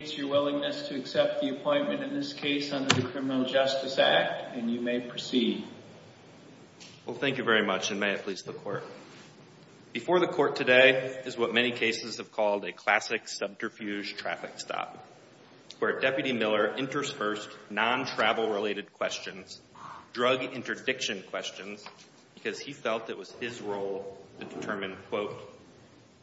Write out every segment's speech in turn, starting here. the appointment in this case under the Criminal Justice Act, and you may proceed. Well, thank you very much, and may it please the Court. Before the Court today is what many cases have called a classic subterfuge traffic stop, where Deputy Miller enters first non-travel-related questions, drug interdiction questions, because he felt it was his role to determine, quote,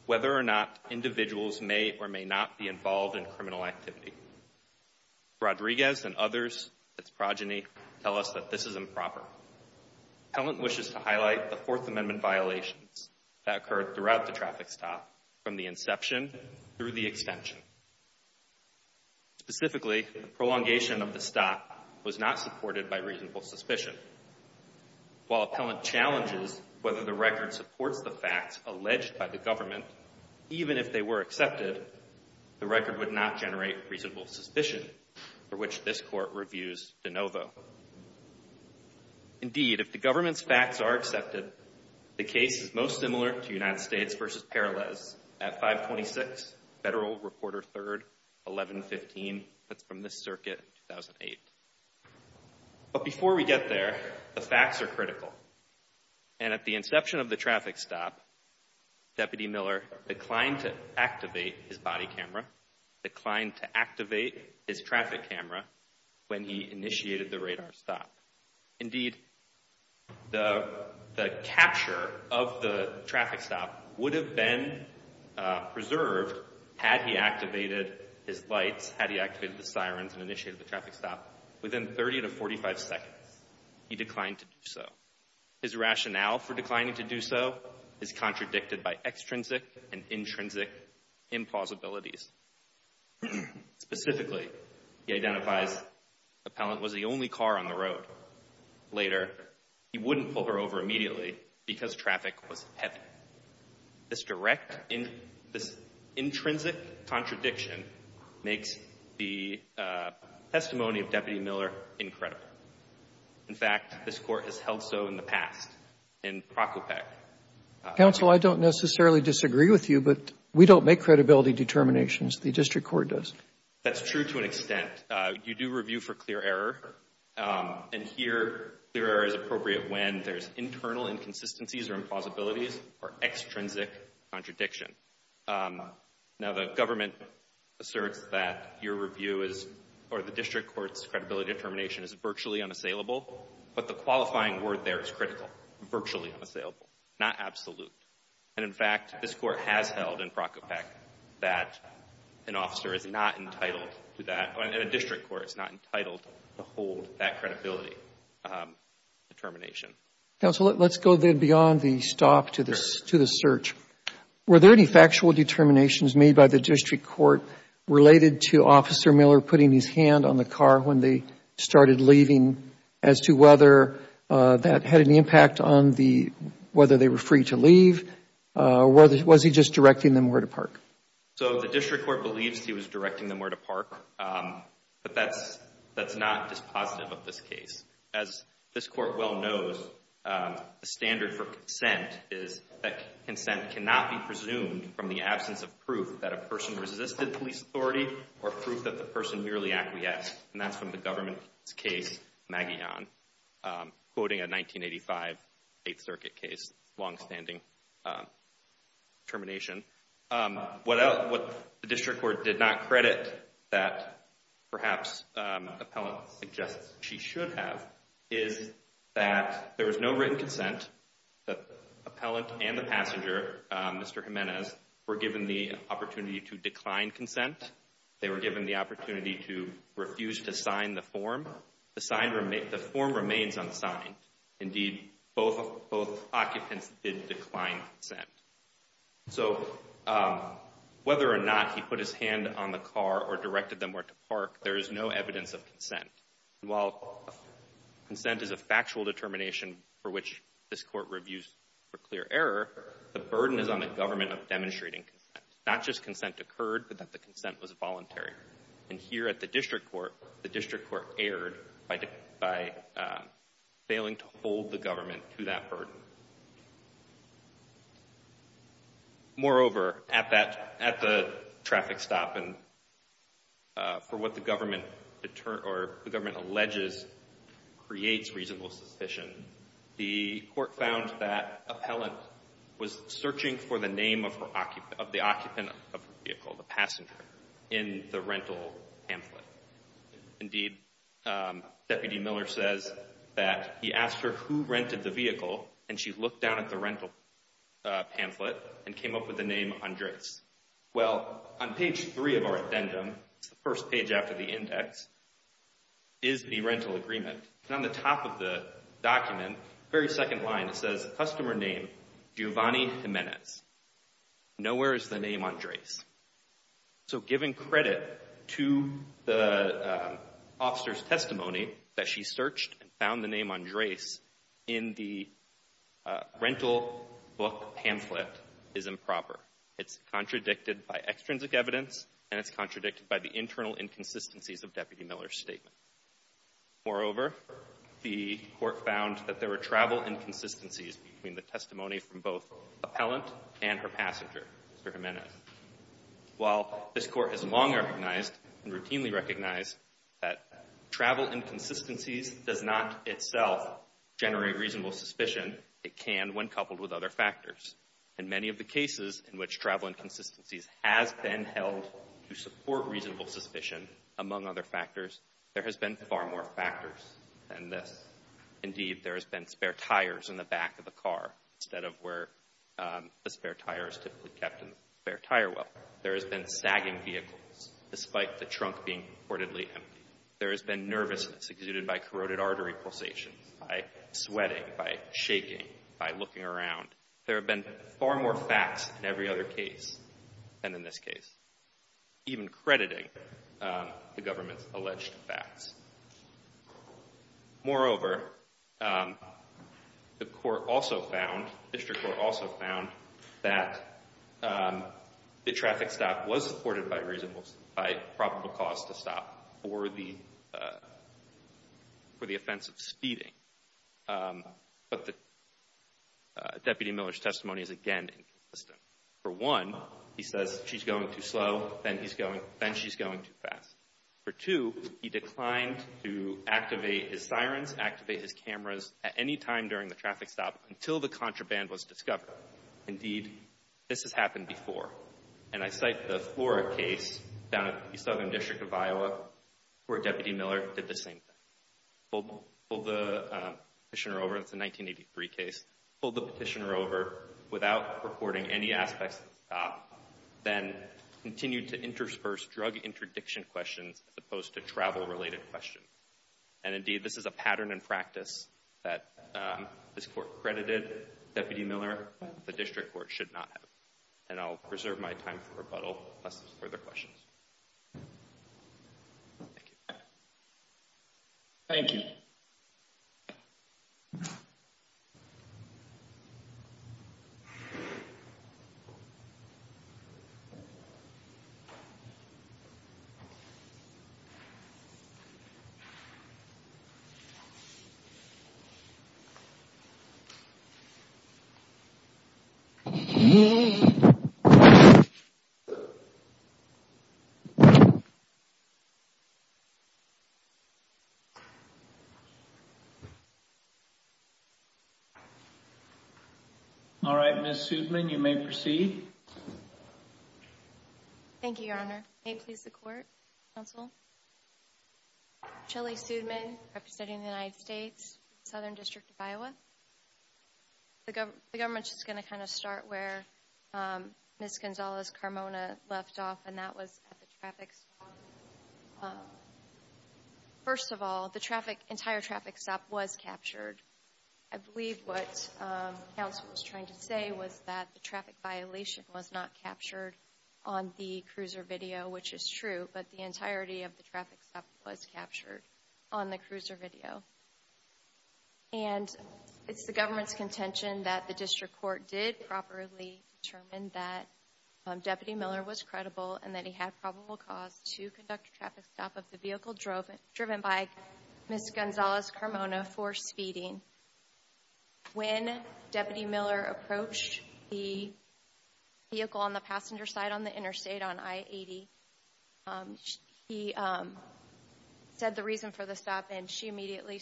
whether or not individuals may or may not be involved in criminal activity. Rodriguez and others, his progeny, tell us that this is improper. Appellant wishes to highlight the Fourth Amendment violations that occurred throughout the traffic stop, from the inception through the extension. Specifically, the prolongation of the stop was not supported by reasonable suspicion. While Appellant challenges whether the record supports the facts alleged by the government, even if they were accepted, the record would not generate reasonable suspicion, for which this Court reviews de novo. Indeed, if the government's facts are accepted, the case is most similar to United States v. Peralez at 526 Federal Reporter 3rd, 1115. That's from this circuit in 2008. But before we get there, the facts are critical. And at the inception of the traffic stop, Deputy Miller declined to activate his body camera, declined to activate his traffic camera when he initiated the radar stop. Indeed, the capture of the traffic stop would have been preserved had he activated his lights, had he activated the sirens and initiated the traffic stop within 30 to 45 seconds. He declined to do so. His rationale for declining to do so is contradicted by extrinsic and intrinsic impossibilities. Specifically, he identifies Appellant was the only car on the road. Later, he wouldn't pull her over immediately because traffic was heavy. This direct intrinsic contradiction makes the testimony of Deputy Miller incredible. In fact, this Court has held so in the past in Procopec. Counsel, I don't necessarily disagree with you, but we don't make credibility determinations. The district court does. That's true to an extent. You do review for clear error. And here, clear error is appropriate when there's internal inconsistencies or impossibilities or extrinsic contradiction. Now, the government asserts that your review is, or the district court's credibility determination is virtually unassailable, but the qualifying word there is critical, virtually unassailable, not absolute. And in fact, this Court has held in Procopec that an officer is not entitled to that, and a district court is not entitled to hold that credibility determination. Counsel, let's go then beyond the stop to the search. Were there any factual determinations made by the district court related to Officer Miller putting his hand on the car when they started leaving as to whether that had any impact on whether they were free to leave? So the district court believes he was directing them where to park, but that's not dispositive of this case. As this court well knows, the standard for consent is that consent cannot be presumed from the absence of proof that a person resisted police authority or proof that the person merely acquiesced, and that's from the government's case, Magillan, quoting a 1985 Eighth Circuit case, longstanding determination. What the district court did not credit that perhaps appellant suggests she should have is that there was no written consent, that the appellant and the passenger, Mr. Jimenez, were given the opportunity to decline consent. They were given the opportunity to refuse to sign the form. The form remains unsigned. Indeed, both occupants did decline consent. So whether or not he put his hand on the car or directed them where to park, there is no evidence of consent. While consent is a factual determination for which this court reviews for clear error, the burden is on the government of demonstrating consent. Not just consent occurred, but that the consent was voluntary. And here at the district court, the district court erred by failing to hold the government to that burden. Moreover, at the traffic stop and for what the government determines or the government alleges creates reasonable suspicion, the court found that appellant was searching for the name of the occupant of the vehicle, the passenger, in the rental pamphlet. Indeed, Deputy Miller says that he asked her who rented the vehicle, and she looked down at the rental pamphlet and came up with the name Andres. Well, on page three of our addendum, the first page after the index, is the rental agreement. And on the top of the document, the very second line, it says customer name Giovanni Jimenez. Nowhere is the name Andres. So giving credit to the officer's testimony that she searched and found the name Andres in the rental book pamphlet is improper. It's contradicted by extrinsic evidence, and it's contradicted by the internal inconsistencies of Deputy Miller's statement. Moreover, the court found that there were travel inconsistencies between the testimony from both appellant and her passenger, Mr. Jimenez. While this court has long recognized and routinely recognized that travel inconsistencies does not itself generate reasonable suspicion, it can when coupled with other factors. In many of the cases in which travel inconsistencies has been held to support reasonable suspicion, among other factors, there has been far more factors than this. Indeed, there has been spare tires in the back of the car instead of where the spare tire is typically kept in the spare tire well. There has been sagging vehicles despite the trunk being reportedly empty. There has been nervousness exuded by corroded artery pulsations, by sweating, by shaking, by looking around. There have been far more facts in every other case than in this case. Even crediting the government's alleged facts. Moreover, the court also found, district court also found, that the traffic stop was supported by probable cause to stop for the offense of speeding. But Deputy Miller's testimony is again inconsistent. For one, he says, she's going too slow, then she's going too fast. For two, he declined to activate his sirens, activate his cameras at any time during the traffic stop until the contraband was discovered. Indeed, this has happened before. And I cite the Flora case down in the southern district of Iowa where Deputy Miller did the same thing. Pulled the petitioner over, it's a 1983 case. Pulled the petitioner over without reporting any aspects of the stop. Then continued to intersperse drug interdiction questions as opposed to travel related questions. And indeed, this is a pattern and practice that this court credited Deputy Miller, the district court should not have. And I'll preserve my time for rebuttal unless there's further questions. Thank you. Thank you. All right, Ms. Sudman, you may proceed. Thank you, Your Honor. May it please the court, counsel? Shelly Sudman, representing the United States, Southern District of Iowa. The government is going to kind of start where Ms. Gonzalez-Carmona left off, and that was at the traffic stop. First of all, the entire traffic stop was captured. I believe what counsel was trying to say was that the traffic violation was not captured on the cruiser video, which is true, but the entirety of the traffic stop was captured on the cruiser video. And it's the government's contention that the district court did properly determine that Deputy Miller was credible and that he had probable cause to conduct a traffic stop of the vehicle driven by Ms. Gonzalez-Carmona for speeding. When Deputy Miller approached the vehicle on the passenger side on the interstate on I-80, he said the reason for the stop, and she immediately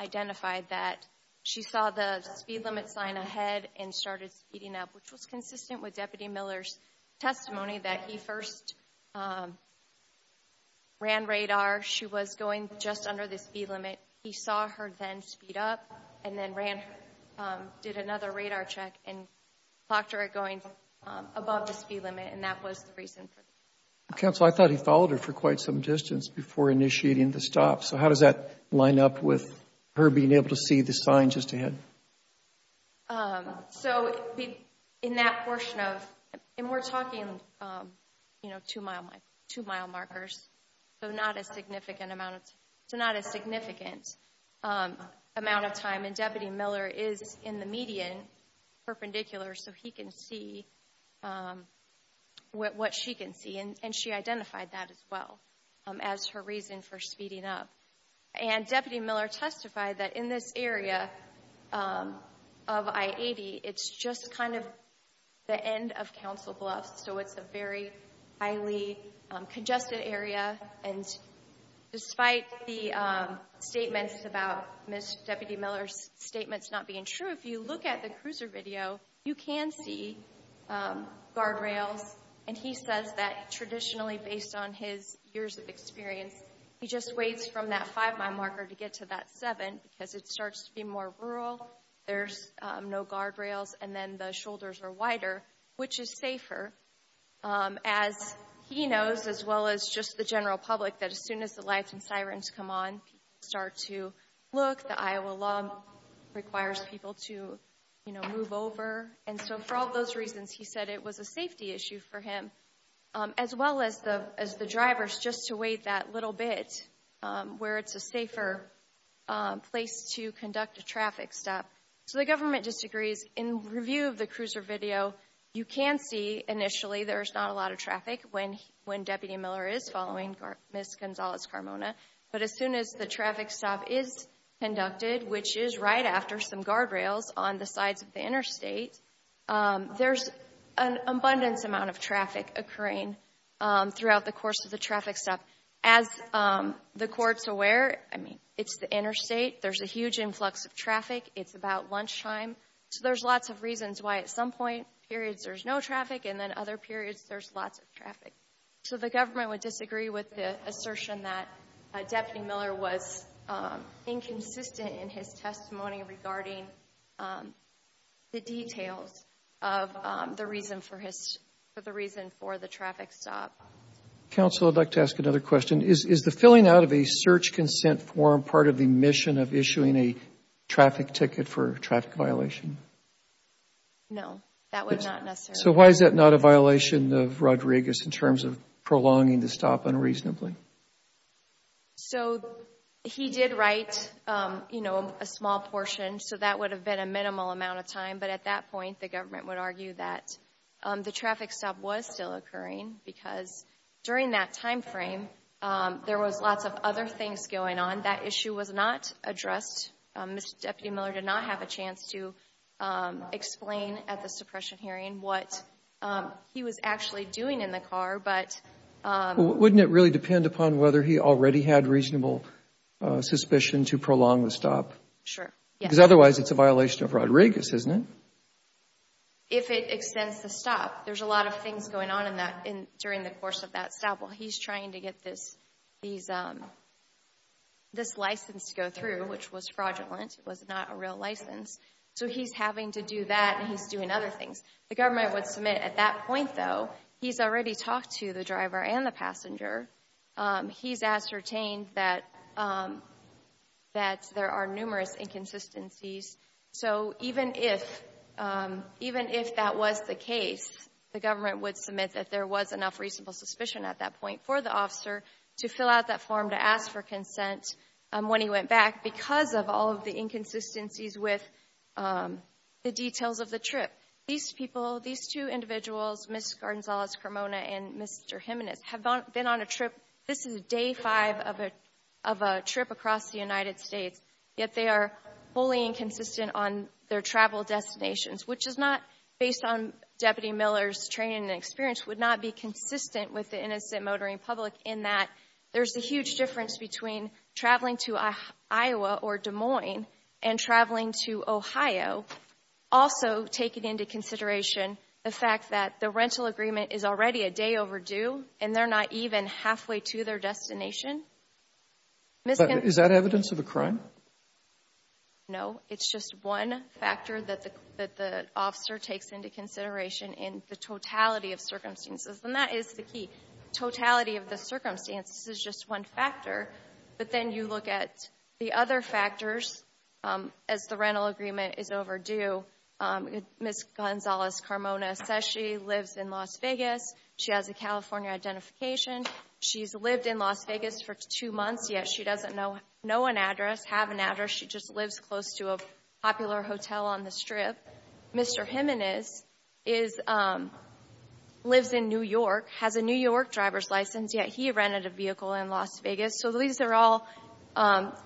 identified that she saw the speed limit sign ahead and started speeding up, which was consistent with Deputy Miller's testimony that he first ran radar. She was going just under the speed limit. He saw her then speed up and then did another radar check and clocked her at going above the speed limit, and that was the reason for the stop. Counsel, I thought he followed her for quite some distance before initiating the stop. So how does that line up with her being able to see the sign just ahead? So in that portion of, and we're talking, you know, two mile markers, so not a significant amount of time, and Deputy Miller is in the median perpendicular, so he can see what she can see, and she identified that as well as her reason for speeding up. And Deputy Miller testified that in this area of I-80, it's just kind of the end of Council Bluffs, so it's a very highly congested area, and despite the statements about Ms. Deputy Miller's statements not being true, if you look at the cruiser video, you can see guardrails, and he says that traditionally based on his years of experience, he just waits from that five mile marker to get to that seven because it starts to be more rural, there's no guardrails, and then the shoulders are wider, which is safer. As he knows, as well as just the general public, that as soon as the lights and sirens come on, people start to look. The Iowa law requires people to, you know, move over. And so for all those reasons, he said it was a safety issue for him, as well as the drivers just to wait that little bit where it's a safer place to conduct a traffic stop. So the government disagrees. In review of the cruiser video, you can see initially there's not a lot of traffic when Deputy Miller is following Ms. Gonzalez-Carmona, but as soon as the traffic stop is conducted, which is right after some guardrails on the sides of the interstate, there's an abundance amount of traffic occurring throughout the course of the traffic stop. As the court's aware, I mean, it's the interstate, there's a huge influx of traffic, it's about lunchtime, so there's lots of reasons why at some point periods there's no traffic and then other periods there's lots of traffic. So the government would disagree with the assertion that Deputy Miller was inconsistent in his testimony regarding the details of the reason for the traffic stop. Counsel, I'd like to ask another question. Is the filling out of a search consent form part of the mission of issuing a traffic ticket for a traffic violation? No, that was not necessary. So why is that not a violation of Rodriguez in terms of prolonging the stop unreasonably? So he did write, you know, a small portion, so that would have been a minimal amount of time, but at that point the government would argue that the traffic stop was still occurring because during that time frame there was lots of other things going on. That issue was not addressed. Mr. Deputy Miller did not have a chance to explain at the suppression hearing what he was actually doing in the car. Wouldn't it really depend upon whether he already had reasonable suspicion to prolong the stop? Sure, yes. Because otherwise it's a violation of Rodriguez, isn't it? If it extends the stop. There's a lot of things going on during the course of that stop. He's trying to get this license to go through, which was fraudulent. It was not a real license. So he's having to do that and he's doing other things. The government would submit at that point, though, he's already talked to the driver and the passenger. He's ascertained that there are numerous inconsistencies. So even if that was the case, the government would submit that there was enough reasonable suspicion at that point for the officer to fill out that form to ask for consent when he went back because of all of the inconsistencies with the details of the trip. These people, these two individuals, Ms. Gonzalez-Cremona and Mr. Jimenez, have been on a trip. This is day five of a trip across the United States. Yet they are wholly inconsistent on their travel destinations, which is not based on Deputy Miller's training and experience, would not be consistent with the innocent motoring public in that there's a huge difference between traveling to Iowa or Des Moines and traveling to Ohio, also taking into consideration the fact that the rental agreement is already a day overdue and they're not even halfway to their destination. Ms. Gonzalez-Cremona. But is that evidence of a crime? No. It's just one factor that the officer takes into consideration in the totality of circumstances. And that is the key. Totality of the circumstances is just one factor. But then you look at the other factors as the rental agreement is overdue. Ms. Gonzalez-Cremona says she lives in Las Vegas. She has a California identification. She's lived in Las Vegas for two months, yet she doesn't know an address, have an address. She just lives close to a popular hotel on the Strip. Mr. Jimenez lives in New York, has a New York driver's license, yet he rented a vehicle in Las Vegas. So these are all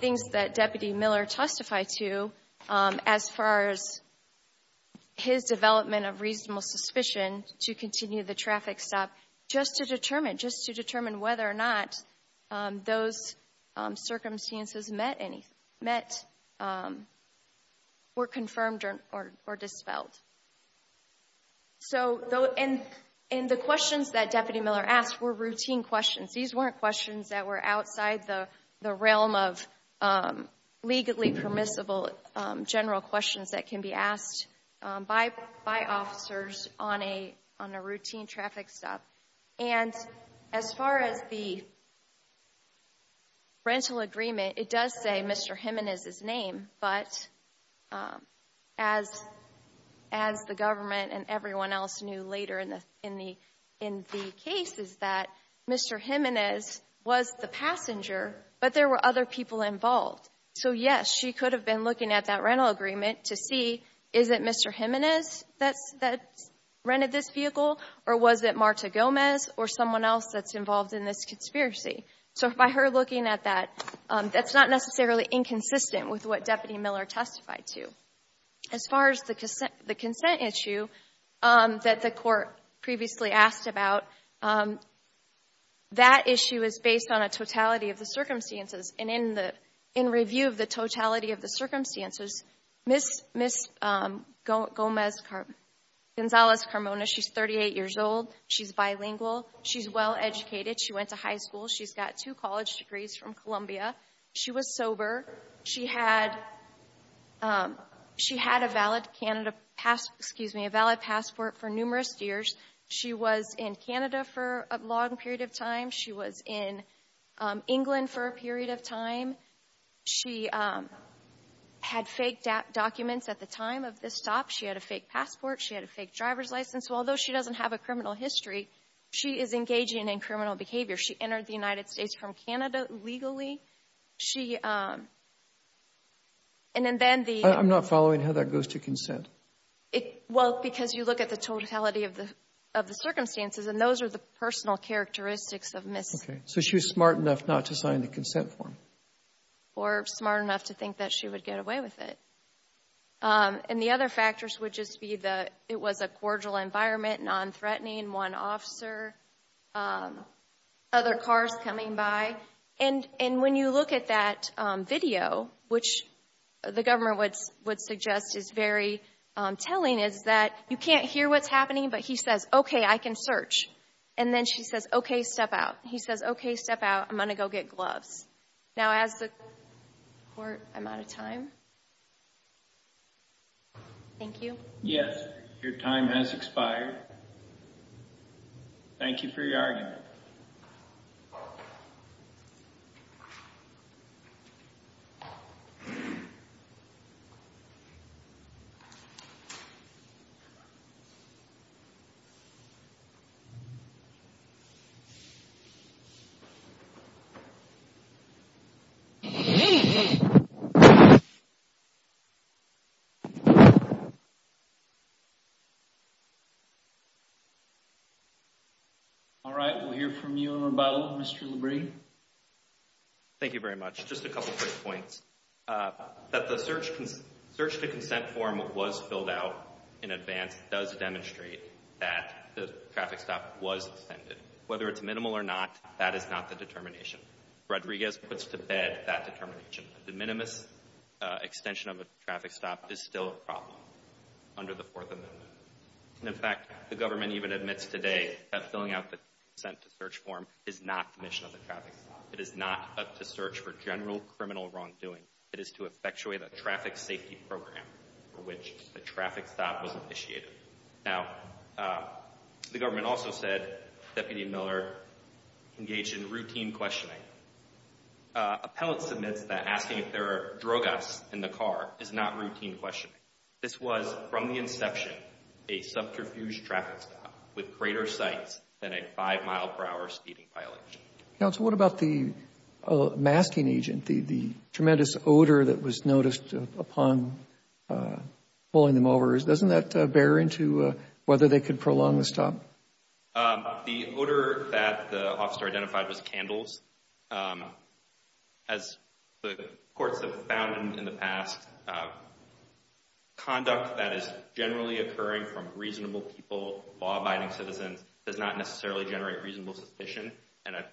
things that Deputy Miller testified to as far as his development of reasonable suspicion to continue the traffic stop, just to determine, just to determine whether or not those circumstances met were confirmed or dispelled. So, and the questions that Deputy Miller asked were routine questions. These weren't questions that were outside the realm of legally permissible general questions that can be asked by officers on a routine traffic stop. And as far as the rental agreement, it does say Mr. Jimenez's name, but as the government and everyone else knew later in the case is that Mr. Jimenez was the passenger, but there were other people involved. So, yes, she could have been looking at that rental agreement to see, is it Mr. Jimenez that rented this vehicle or was it Marta Gomez or someone else that's involved in this conspiracy? So by her looking at that, that's not necessarily inconsistent with what Deputy Miller testified to. As far as the consent issue that the court previously asked about, that issue is based on a totality of the circumstances. And in review of the totality of the circumstances, Ms. Gomez-Gonzalez Carmona, she's 38 years old. She's bilingual. She's well educated. She went to high school. She's got two college degrees from Columbia. She was sober. She had a valid passport for numerous years. She was in Canada for a long period of time. She was in England for a period of time. She had fake documents at the time of this stop. She had a fake passport. She had a fake driver's license. So although she doesn't have a criminal history, she is engaging in criminal behavior. She entered the United States from Canada legally. She — and then the — I'm not following how that goes to consent. Well, because you look at the totality of the circumstances, and those are the personal characteristics of Ms. — Okay. So she was smart enough not to sign the consent form. Or smart enough to think that she would get away with it. And the other factors would just be the — it was a cordial environment, non-threatening, one officer, other cars coming by. And when you look at that video, which the government would suggest is very telling, is that you can't hear what's happening, but he says, okay, I can search. And then she says, okay, step out. He says, okay, step out. I'm going to go get gloves. Now, as the court — I'm out of time. Thank you. Yes. Your time has expired. Thank you for your argument. All right, we'll hear from you in rebuttal, Mr. LaBrie. Thank you very much. Just a couple quick points. That the search to consent form was filled out in advance does demonstrate that the traffic stop was intended. Whether it's minimal or not, that is not the determination. Rodriguez puts to bed that determination. The minimus extension of a traffic stop is still a problem under the Fourth Amendment. And, in fact, the government even admits today that filling out the consent to search form is not the mission of the traffic stop. It is not to search for general criminal wrongdoing. It is to effectuate a traffic safety program for which the traffic stop was initiated. Now, the government also said, Deputy Miller, engage in routine questioning. Appellant submits that asking if there are drug offs in the car is not routine questioning. This was, from the inception, a subterfuge traffic stop with greater sights than a five-mile-per-hour speeding violation. Counsel, what about the masking agent, the tremendous odor that was noticed upon pulling them over? Doesn't that bear into whether they could prolong the stop? The odor that the officer identified was candles. As the courts have found in the past, conduct that is generally occurring from reasonable people, law-abiding citizens, does not necessarily generate reasonable suspicion. And a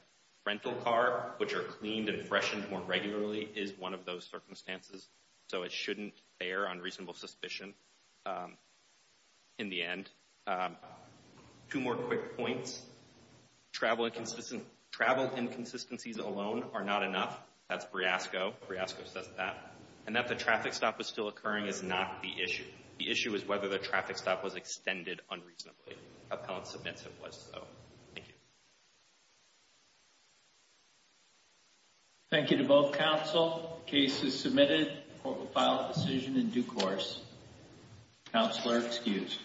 rental car, which are cleaned and freshened more regularly, is one of those circumstances. So it shouldn't bear on reasonable suspicion in the end. Two more quick points. Travel inconsistencies alone are not enough. That's Briasco. Briasco says that. And that the traffic stop was still occurring is not the issue. The issue is whether the traffic stop was extended unreasonably. Appellant submits it was so. Thank you. Thank you to both counsel. Case is submitted. Court will file a decision in due course. Counselor excused.